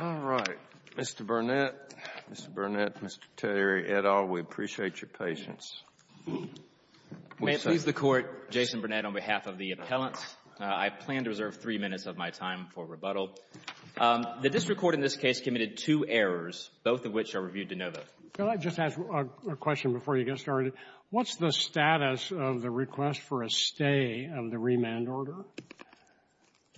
Alright. Mr. Burnett. Mr. Burnett, Mr. Terry, et al., we appreciate your patience. May it please the Court, Jason Burnett on behalf of the appellants, I plan to reserve three minutes of my time for rebuttal. The district court in this case committed two errors, both of which are reviewed de novo. Can I just ask a question before you get started? What's the status of the request for a stay of the remand order?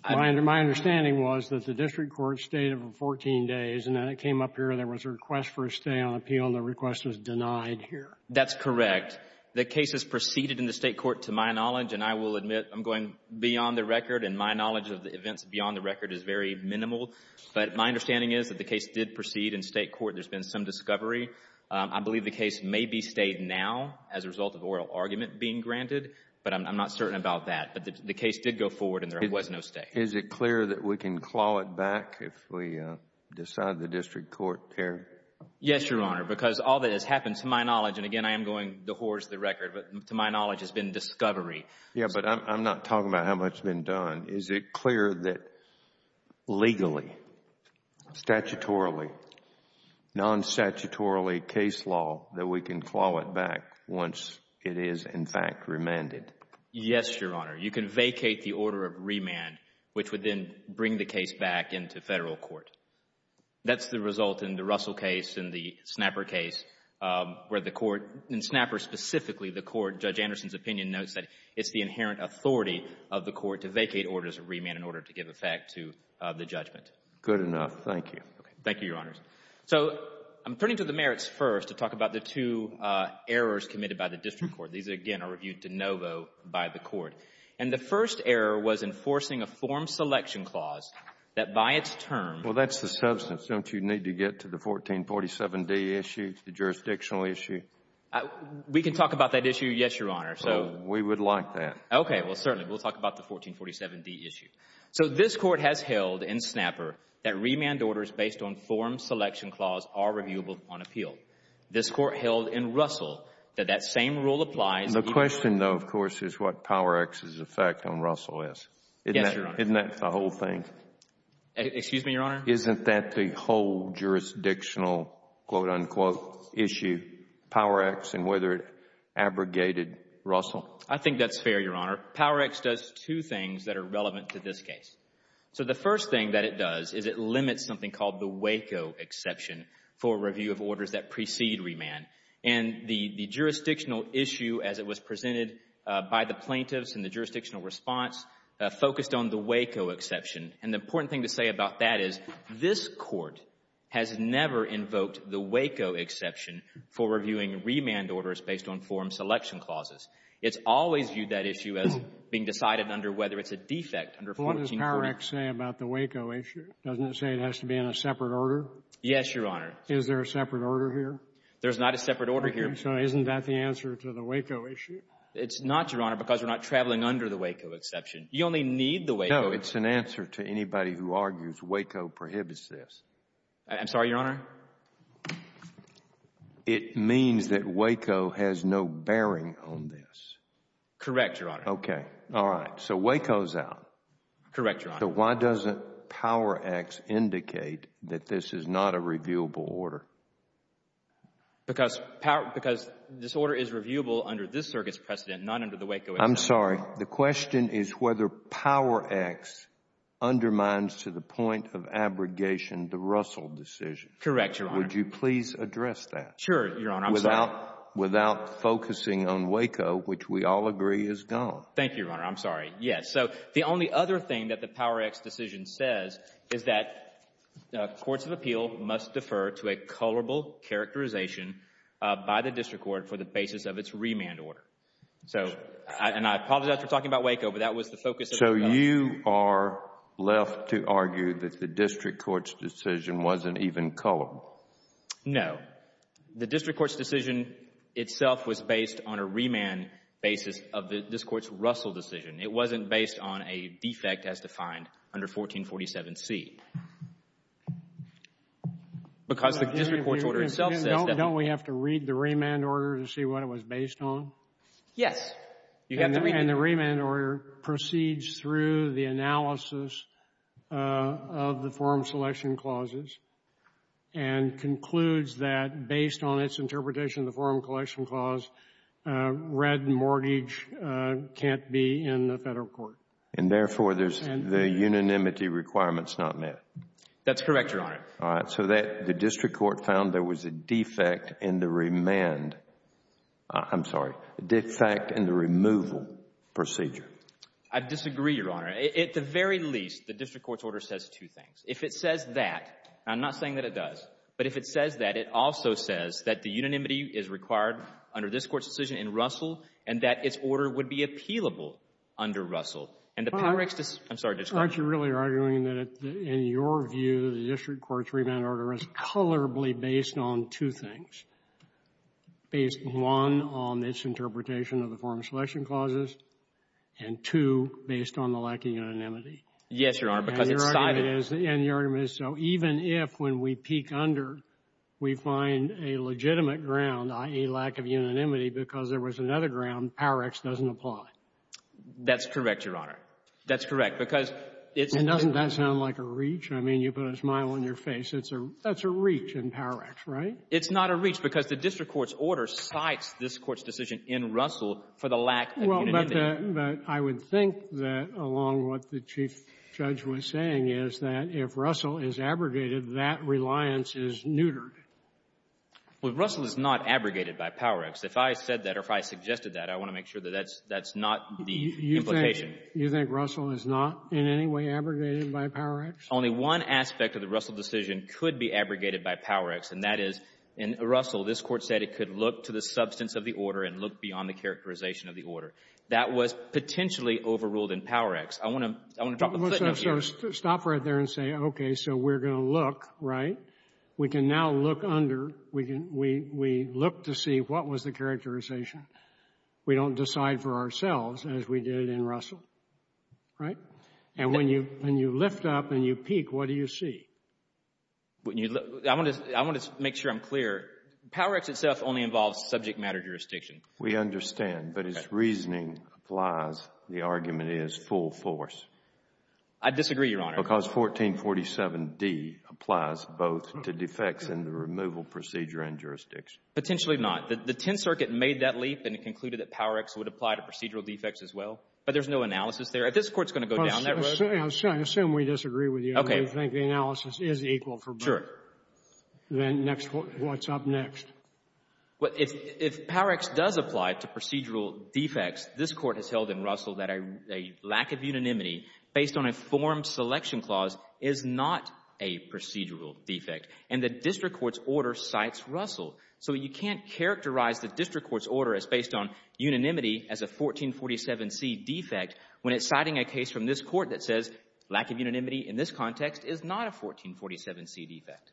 My understanding was that the district court stayed for 14 days, and then it came up here and there was a request for a stay on appeal, and the request was denied here. That's correct. The case has proceeded in the state court to my knowledge, and I will admit I'm going beyond the record, and my knowledge of the events beyond the record is very minimal, but my understanding is that the case did proceed in state court. There's been some discovery. I believe the case may be stayed now as a result of oral argument being granted, but I'm not certain about that. But the case did go forward and there was no stay. Is it clear that we can claw it back if we decide the district court, Terry? Yes, Your Honor, because all that has happened to my knowledge, and again, I am going to hoarse the record, but to my knowledge has been discovery. Yes, but I'm not talking about how much has been done. Is it clear that legally, statutorily, non-statutorily case law that we can claw it back once it is, in fact, remanded? Yes, Your Honor. You can vacate the order of remand, which would then bring the case back into Federal court. That's the result in the Russell case and the Snapper case where the court, in Snapper specifically, the court, Judge Anderson's opinion notes that it's the inherent authority of the court to vacate orders of remand in order to give effect to the judgment. Good enough. Thank you. Thank you, Your Honors. So I'm turning to the merits first to talk about the two errors committed by the district court. These, again, are reviewed de novo by the court. And the first error was enforcing a form selection clause that by its term Well, that's the substance. Don't you need to get to the 1447D issue, the jurisdictional issue? We can talk about that issue, yes, Your Honor. Well, we would like that. Okay. Well, certainly. We'll talk about the 1447D issue. So this court has held in Snapper that remand orders based on form selection clause are reviewable on appeal. This court held in Russell that that same rule applies The question, though, of course, is what Power-X's effect on Russell is. Yes, Your Honor. Isn't that the whole thing? Excuse me, Your Honor? Isn't that the whole jurisdictional, quote, unquote, issue, Power-X, and whether it abrogated Russell? Well, I think that's fair, Your Honor. Power-X does two things that are relevant to this case. So the first thing that it does is it limits something called the Waco exception for review of orders that precede remand. And the jurisdictional issue, as it was presented by the plaintiffs in the jurisdictional response, focused on the Waco exception. And the important thing to say about that is this court has never invoked the Waco exception for reviewing remand orders based on form selection clauses. It's always viewed that issue as being decided under whether it's a defect under 1440. But what does Power-X say about the Waco issue? Doesn't it say it has to be in a separate order? Yes, Your Honor. Is there a separate order here? There's not a separate order here. Okay. So isn't that the answer to the Waco issue? It's not, Your Honor, because we're not traveling under the Waco exception. You only need the Waco. No, it's an answer to anybody who argues Waco prohibits this. I'm sorry, Your Honor? It means that Waco has no bearing on this. Correct, Your Honor. Okay. All right. So Waco's out. Correct, Your Honor. So why doesn't Power-X indicate that this is not a reviewable order? Because this order is reviewable under this circuit's precedent, not under the Waco exception. I'm sorry. The question is whether Power-X undermines to the point of abrogation the Russell decision. Correct, Your Honor. Would you please address that? Sure, Your Honor. I'm sorry. Without focusing on Waco, which we all agree is gone. Thank you, Your Honor. I'm sorry. Yes. So the only other thing that the Power-X decision says is that courts of appeal must defer to a colorable characterization by the district court for the basis of its remand order. And I apologize for talking about Waco, but that was the focus of the discussion. So you are left to argue that the district court's decision wasn't even colorable? No. The district court's decision itself was based on a remand basis of this court's Russell decision. It wasn't based on a defect as defined under 1447C. Because the district court's order itself says that. Don't we have to read the remand order to see what it was based on? Yes. And the remand order proceeds through the analysis of the forum selection clauses and concludes that based on its interpretation of the forum collection clause, red mortgage can't be in the Federal court. And therefore, the unanimity requirement is not met. That's correct, Your Honor. All right. So the district court found there was a defect in the remand. I'm sorry. A defect in the removal procedure. I disagree, Your Honor. At the very least, the district court's order says two things. If it says that, and I'm not saying that it does, but if it says that, it also says that the unanimity is required under this court's decision in Russell and that its order would be appealable under Russell. All right. I'm sorry. Aren't you really arguing that, in your view, the district court's remand order is colorably based on two things, based, one, on its interpretation of the forum selection clauses, and, two, based on the lack of unanimity? Yes, Your Honor, because it's cited. And your argument is so. Even if, when we peek under, we find a legitimate ground, i.e. lack of unanimity, because there was another ground, Power-X doesn't apply. That's correct, Your Honor. That's correct, because it's a ---- And doesn't that sound like a reach? I mean, you put a smile on your face. That's a reach in Power-X, right? It's not a reach because the district court's order cites this court's decision in Russell for the lack of unanimity. Well, but I would think that along what the Chief Judge was saying is that if Russell is abrogated, that reliance is neutered. Well, Russell is not abrogated by Power-X. If I said that or if I suggested that, I want to make sure that that's not the implication. You think Russell is not in any way abrogated by Power-X? Only one aspect of the Russell decision could be abrogated by Power-X, and that is in Russell, this Court said it could look to the substance of the order and look beyond the characterization of the order. That was potentially overruled in Power-X. I want to drop a footnote here. Stop right there and say, okay, so we're going to look, right? We can now look under. We look to see what was the characterization. We don't decide for ourselves as we did in Russell, right? And when you lift up and you peek, what do you see? I want to make sure I'm clear. Power-X itself only involves subject matter jurisdiction. We understand. But as reasoning applies, the argument is full force. I disagree, Your Honor. Because 1447d applies both to defects in the removal procedure and jurisdiction. Potentially not. The Tenth Circuit made that leap and it concluded that Power-X would apply to procedural defects as well. But there's no analysis there. This Court's going to go down that road. I assume we disagree with you. Okay. I think the analysis is equal for both. Sure. Then what's up next? Well, if Power-X does apply to procedural defects, this Court has held in Russell that a lack of unanimity based on a form selection clause is not a procedural defect. And the district court's order cites Russell. So you can't characterize the district court's order as based on unanimity as a 1447c defect when it's citing a case from this Court that says lack of unanimity in this context is not a 1447c defect.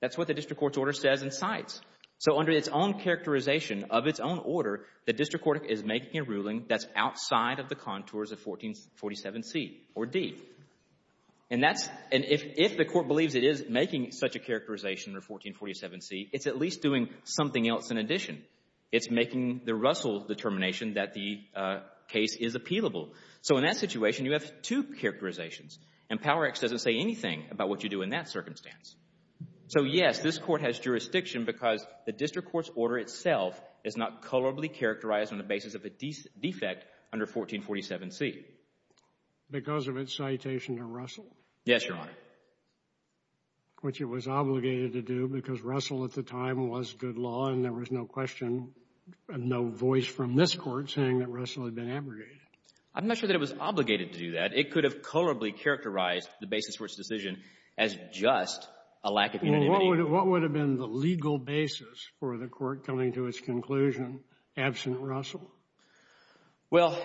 That's what the district court's order says and cites. So under its own characterization of its own order, the district court is making a ruling that's outside of the contours of 1447c or d. And if the Court believes it is making such a characterization of 1447c, it's at least doing something else in addition. It's making the Russell determination that the case is appealable. So in that situation, you have two characterizations. And Power-X doesn't say anything about what you do in that circumstance. So, yes, this Court has jurisdiction because the district court's order itself is not colorably characterized on the basis of a defect under 1447c. Because of its citation to Russell? Yes, Your Honor. Which it was obligated to do because Russell at the time was good law and there was no question, no voice from this Court saying that Russell had been abrogated. I'm not sure that it was obligated to do that. It could have colorably characterized the basis for its decision as just a lack of unanimity. Well, what would have been the legal basis for the Court coming to its conclusion absent Russell? Well,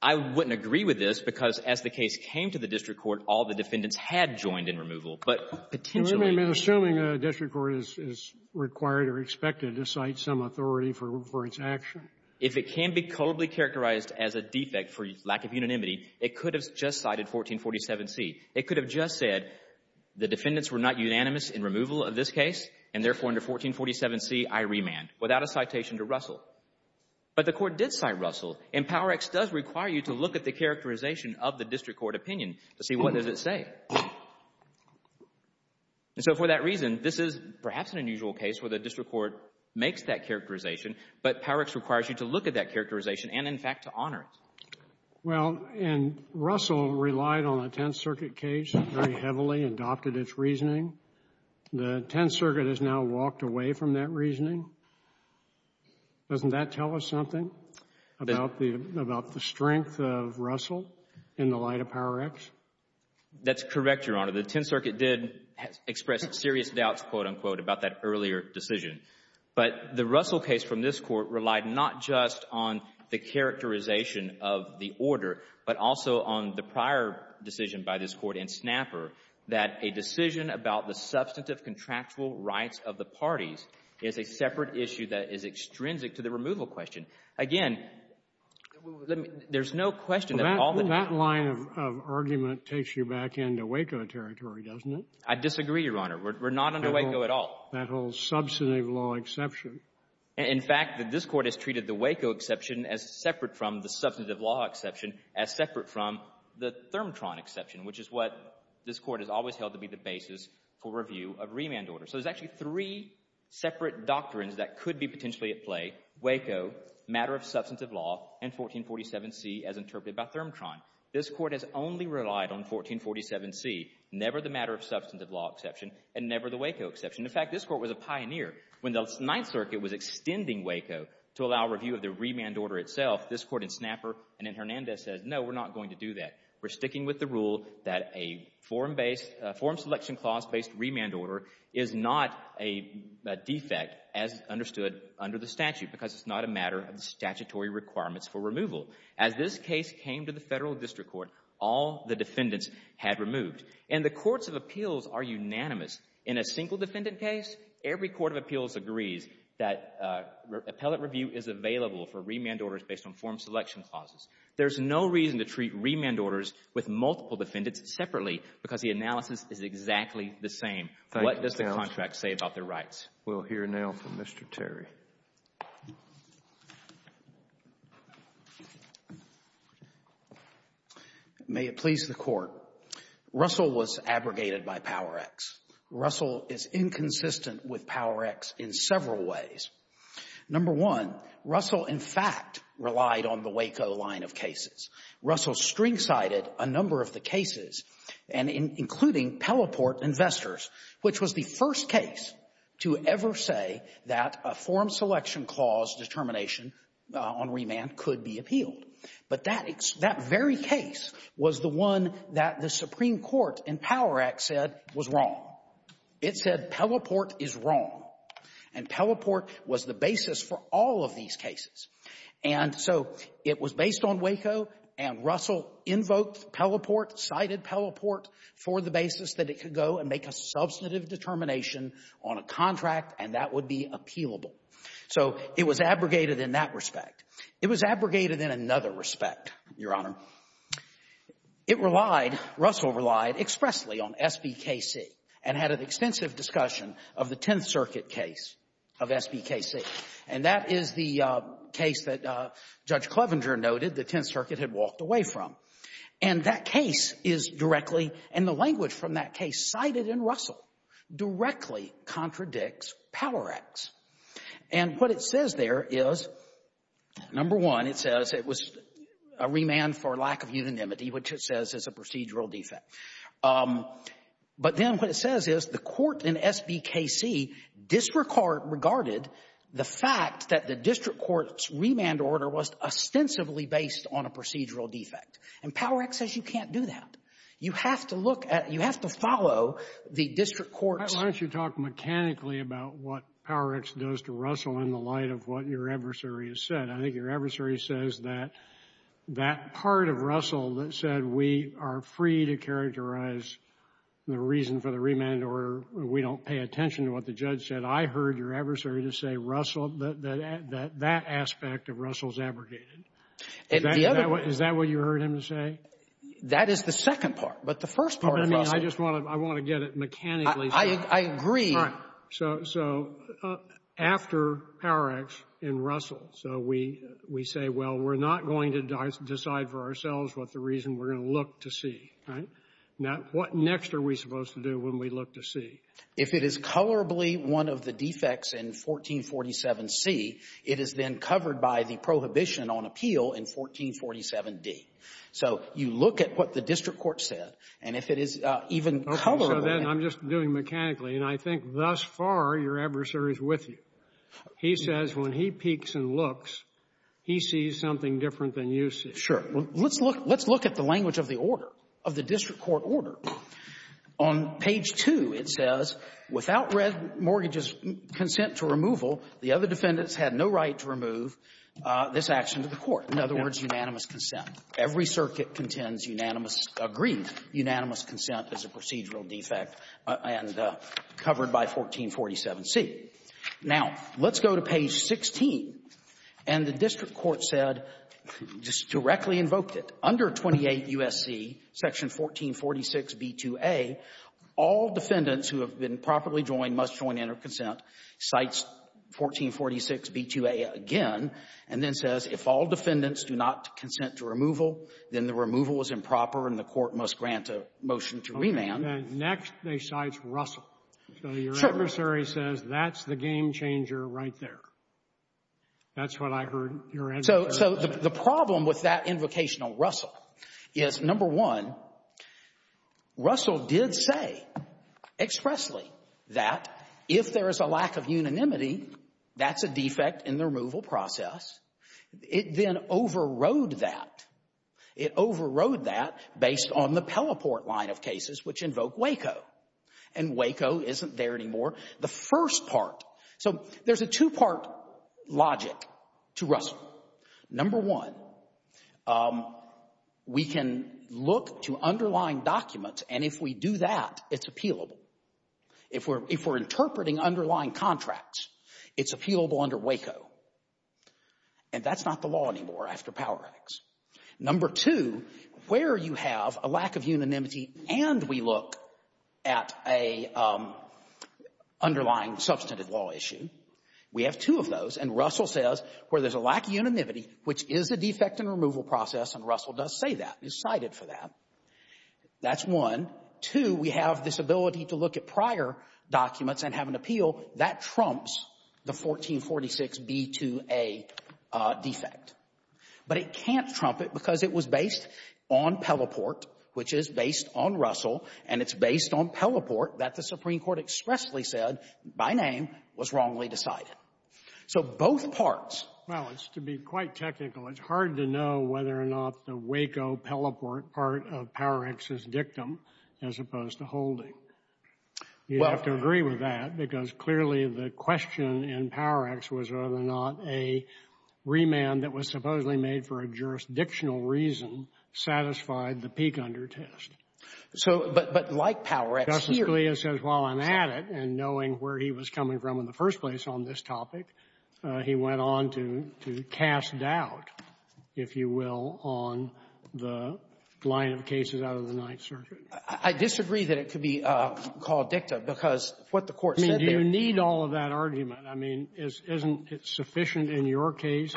I wouldn't agree with this because as the case came to the district court, all the defendants had joined in removal. But potentially — And we may be assuming a district court is required or expected to cite some authority for its action. If it can be colorably characterized as a defect for lack of unanimity, it could have just cited 1447c. It could have just said the defendants were not unanimous in removal of this case and, therefore, under 1447c, I remand, without a citation to Russell. But the Court did cite Russell. And Power-X does require you to look at the characterization of the district court opinion to see what does it say. And so for that reason, this is perhaps an unusual case where the district court makes that characterization, but Power-X requires you to look at that characterization and, in fact, to honor it. Well, and Russell relied on the Tenth Circuit case very heavily, adopted its reasoning. The Tenth Circuit has now walked away from that reasoning. Doesn't that tell us something about the strength of Russell in the light of Power-X? That's correct, Your Honor. The Tenth Circuit did express serious doubts, quote, unquote, about that earlier decision. But the Russell case from this Court relied not just on the characterization of the order, but also on the prior decision by this Court in Snapper that a decision about the substantive contractual rights of the parties is a separate issue that is extrinsic to the removal question. Again, let me — there's no question that all the — Well, that line of argument takes you back into Waco territory, doesn't it? I disagree, Your Honor. We're not under Waco at all. That whole substantive law exception. In fact, this Court has treated the Waco exception as separate from the substantive basis for review of remand order. So there's actually three separate doctrines that could be potentially at play. Waco, matter of substantive law, and 1447C as interpreted by Thermotron. This Court has only relied on 1447C, never the matter of substantive law exception, and never the Waco exception. In fact, this Court was a pioneer. When the Ninth Circuit was extending Waco to allow review of the remand order itself, this Court in Snapper and in Hernandez says, no, we're not going to do that. We're sticking with the rule that a form-based — form selection clause-based remand order is not a defect as understood under the statute because it's not a matter of statutory requirements for removal. As this case came to the Federal District Court, all the defendants had removed. And the courts of appeals are unanimous. In a single defendant case, every court of appeals agrees that appellate review is available for remand orders based on form selection clauses. There's no reason to treat remand orders with multiple defendants separately because the analysis is exactly the same. What does the contract say about their rights? We'll hear now from Mr. Terry. May it please the Court. Russell was abrogated by Power-X. Russell is inconsistent with Power-X in several ways. Number one, Russell, in fact, relied on the Waco line of cases. Russell string-sided a number of the cases, including Pelleport Investors, which was the first case to ever say that a form selection clause determination on remand could be appealed. But that very case was the one that the Supreme Court in Power-X said was wrong. It said Pelleport is wrong. And Pelleport was the basis for all of these cases. And so it was based on Waco, and Russell invoked Pelleport, cited Pelleport for the basis that it could go and make a substantive determination on a contract, and that would be appealable. So it was abrogated in that respect. It was abrogated in another respect, Your Honor. It relied, Russell relied expressly on SBKC and had an extensive discussion of the Tenth Circuit case of SBKC. And that is the case that Judge Clevenger noted the Tenth Circuit had walked away from. And that case is directly, and the language from that case cited in Russell directly contradicts Power-X. And what it says there is, number one, it says it was a remand for lack of unanimity, which it says is a procedural defect. But then what it says is the court in SBKC disregarded the fact that the district court's remand order was ostensibly based on a procedural defect. And Power-X says you can't do that. You have to look at, you have to follow the district court's. Why don't you talk mechanically about what Power-X does to Russell in the light of what your adversary has said. I think your adversary says that that part of Russell that said we are free to characterize the reason for the remand order. We don't pay attention to what the judge said. I heard your adversary just say Russell, that aspect of Russell's abrogated. Is that what you heard him say? That is the second part. But the first part of Russell. I mean, I just want to get it mechanically. I agree. So after Power-X in Russell, so we say, well, we're not going to decide for Now, what next are we supposed to do when we look to see? If it is colorably one of the defects in 1447C, it is then covered by the prohibition on appeal in 1447D. So you look at what the district court said, and if it is even colorable. Okay. So then I'm just doing mechanically. And I think thus far your adversary is with you. He says when he peeks and looks, he sees something different than you see. Sure. Let's look at the language of the order, of the district court order. On page 2, it says, without mortgages' consent to removal, the other defendants had no right to remove this action to the court. In other words, unanimous consent. Every circuit contends unanimous, agreed unanimous consent as a procedural defect and covered by 1447C. Now, let's go to page 16, and the district court said, just directly invoked it, under 28 U.S.C., section 1446B2A, all defendants who have been properly joined must join in or consent, cites 1446B2A again, and then says if all defendants do not consent to removal, then the removal is improper and the court must grant a motion to remand. And then next they cite Russell. So your adversary says that's the game changer right there. That's what I heard your adversary say. So the problem with that invocation of Russell is, number one, Russell did say expressly that if there is a lack of unanimity, that's a defect in the removal process. It then overrode that. It overrode that based on the Pelleport line of cases, which invoke Waco. And Waco isn't there anymore. The first part, so there's a two-part logic to Russell. Number one, we can look to underlying documents, and if we do that, it's appealable. If we're interpreting underlying contracts, it's appealable under Waco. And that's not the law anymore after Power Act. Number two, where you have a lack of unanimity and we look at a underlying substantive law issue, we have two of those, and Russell says where there's a lack of unanimity, which is a defect in the removal process, and Russell does say that, is cited for that, that's one. Two, we have this ability to look at prior documents and have an appeal. That trumps the 1446b2a defect. But it can't trump it because it was based on Pelleport, which is based on Russell, and it's based on Pelleport that the Supreme Court expressly said, by name, was wrongly decided. So both parts — Well, it's to be quite technical. It's hard to know whether or not the Waco Pelleport part of Power Act is dictum as opposed to holding. You'd have to agree with that because clearly the question in Power Act was whether or not a remand that was supposedly made for a jurisdictional reason satisfied the peak under test. So — But like Power Act here — Justice Scalia says, while I'm at it, and knowing where he was coming from in the first place on this topic, he went on to cast doubt, if you will, on the line of cases out of the Ninth Circuit. I disagree that it could be called dictum because what the Court said there — I mean, do you need all of that argument? I mean, isn't it sufficient in your case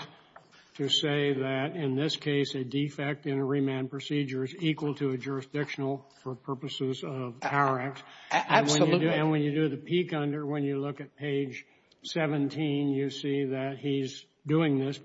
to say that in this case a defect in a remand procedure is equal to a jurisdictional for purposes of Power Act? Absolutely. And when you do the peak under, when you look at page 17, you see that he's doing That's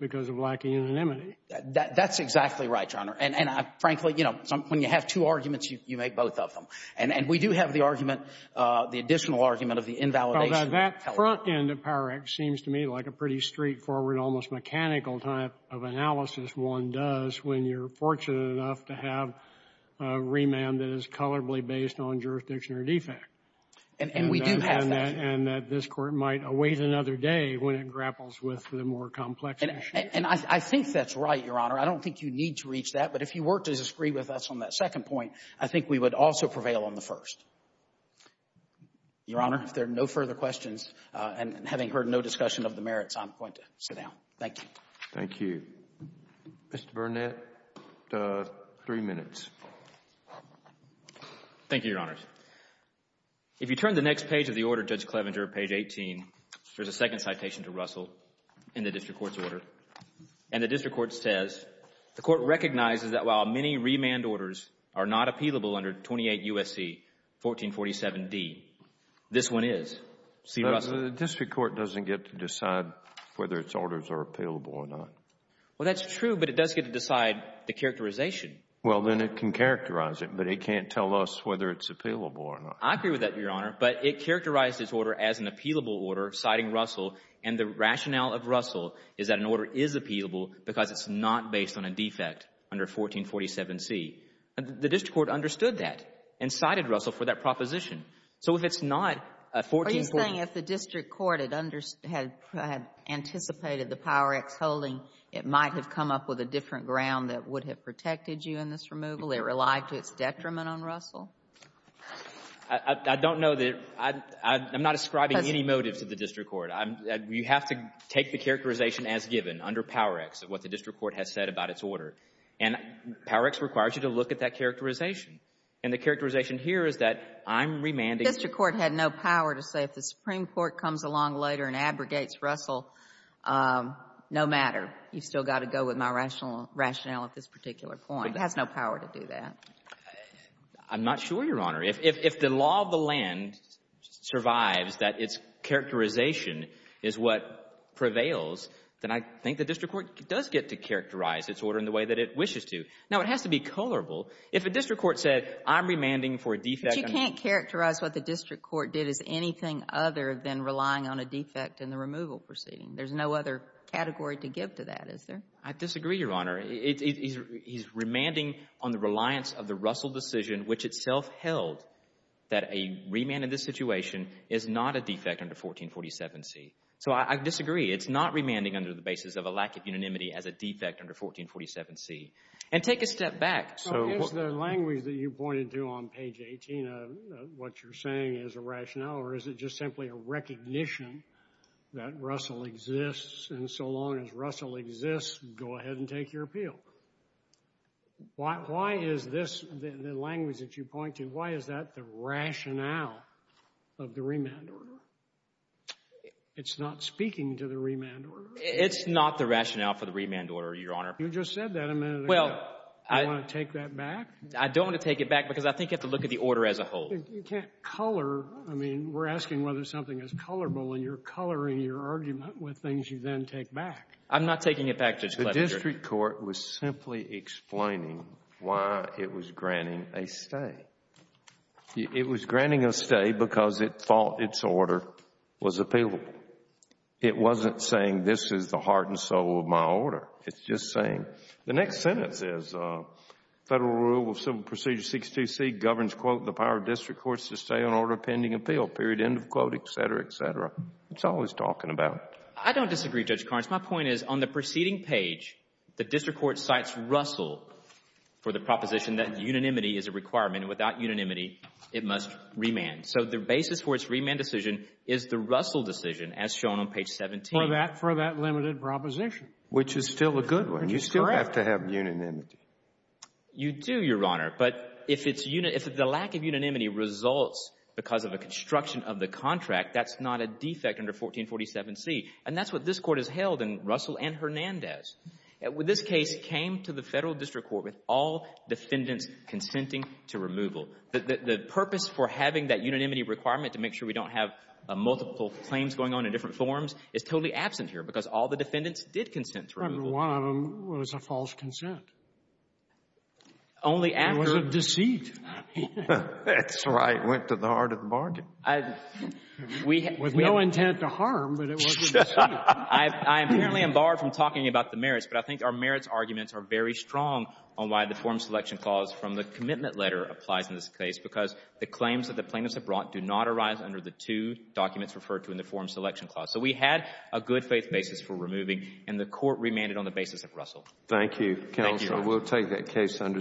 exactly right, Your Honor. And frankly, you know, when you have two arguments, you make both of them. And we do have the argument, the additional argument of the invalidation. That front end of Power Act seems to me like a pretty straightforward, almost mechanical type of analysis one does when you're fortunate enough to have a remand that is colorably based on jurisdiction or defect. And we do have that. And that this Court might await another day when it grapples with the more complex issues. And I think that's right, Your Honor. I don't think you need to reach that. But if you were to disagree with us on that second point, I think we would also prevail on the first. Your Honor, if there are no further questions, and having heard no discussion of the merits, I'm going to sit down. Thank you. Thank you. Mr. Burnett, three minutes. Thank you, Your Honors. If you turn the next page of the order, Judge Clevenger, page 18, there's a second citation to Russell in the district court's order. And the district court says, the court recognizes that while many remand orders are not appealable under 28 U.S.C. 1447d, this one is. See, Russell? The district court doesn't get to decide whether its orders are appealable or not. Well, that's true, but it does get to decide the characterization. Well, then it can characterize it, but it can't tell us whether it's appealable or not. I agree with that, Your Honor. But it characterized this order as an appealable order, citing Russell, and the because it's not based on a defect under 1447c. The district court understood that and cited Russell for that proposition. So if it's not a 1447c ---- Are you saying if the district court had anticipated the Power X holding, it might have come up with a different ground that would have protected you in this removal? It relied to its detriment on Russell? I don't know that ---- I'm not ascribing any motive to the district court. You have to take the characterization as given under Power X, what the district court has said about its order. And Power X requires you to look at that characterization. And the characterization here is that I'm remanding ---- The district court had no power to say if the Supreme Court comes along later and abrogates Russell, no matter. You've still got to go with my rationale at this particular point. It has no power to do that. I'm not sure, Your Honor. If the law of the land survives that its characterization is what prevails, then I think the district court does get to characterize its order in the way that it wishes to. Now, it has to be colorable. If a district court said, I'm remanding for a defect ---- But you can't characterize what the district court did as anything other than relying on a defect in the removal proceeding. There's no other category to give to that, is there? I disagree, Your Honor. He's remanding on the reliance of the Russell decision, which itself held that a remand in this situation is not a defect under 1447C. So I disagree. It's not remanding under the basis of a lack of unanimity as a defect under 1447C. And take a step back. So is the language that you pointed to on page 18 of what you're saying is a rationale, or is it just simply a recognition that Russell exists? And so long as Russell exists, go ahead and take your appeal. Why is this, the language that you point to, why is that the rationale of the remand order? It's not speaking to the remand order. It's not the rationale for the remand order, Your Honor. You just said that a minute ago. Well, I ---- Do you want to take that back? I don't want to take it back because I think you have to look at the order as a whole. You can't color. I mean, we're asking whether something is colorable, and you're coloring your I'm not taking it back, Judge Kledinger. The district court was simply explaining why it was granting a stay. It was granting a stay because it thought its order was appealable. It wasn't saying this is the heart and soul of my order. It's just saying the next sentence is Federal Rule of Civil Procedure 62C governs, quote, the power of district courts to stay on order pending appeal, period, end of quote, et cetera, et cetera. It's always talking about it. I don't disagree, Judge Carnes. My point is on the preceding page, the district court cites Russell for the proposition that unanimity is a requirement, and without unanimity, it must remand. So the basis for its remand decision is the Russell decision as shown on page 17. For that limited proposition, which is still a good one. You still have to have unanimity. You do, Your Honor. But if the lack of unanimity results because of a construction of the contract, that's not a defect under 1447C. And that's what this Court has held in Russell and Hernandez. This case came to the Federal district court with all defendants consenting to removal. The purpose for having that unanimity requirement to make sure we don't have multiple claims going on in different forms is totally absent here because all the defendants did consent to removal. Scaliar. One of them was a false consent. Miller. It was a deceit. That's right. Went to the heart of the bargain. With no intent to harm, but it was a deceit. I apparently am barred from talking about the merits, but I think our merits arguments are very strong on why the Form Selection Clause from the commitment letter applies in this case, because the claims that the plaintiffs have brought do not arise under the two documents referred to in the Form Selection Clause. So we had a good-faith basis for removing, and the Court remanded on the basis of Russell. Thank you. Thank you, Your Honor. We'll take that case under submission.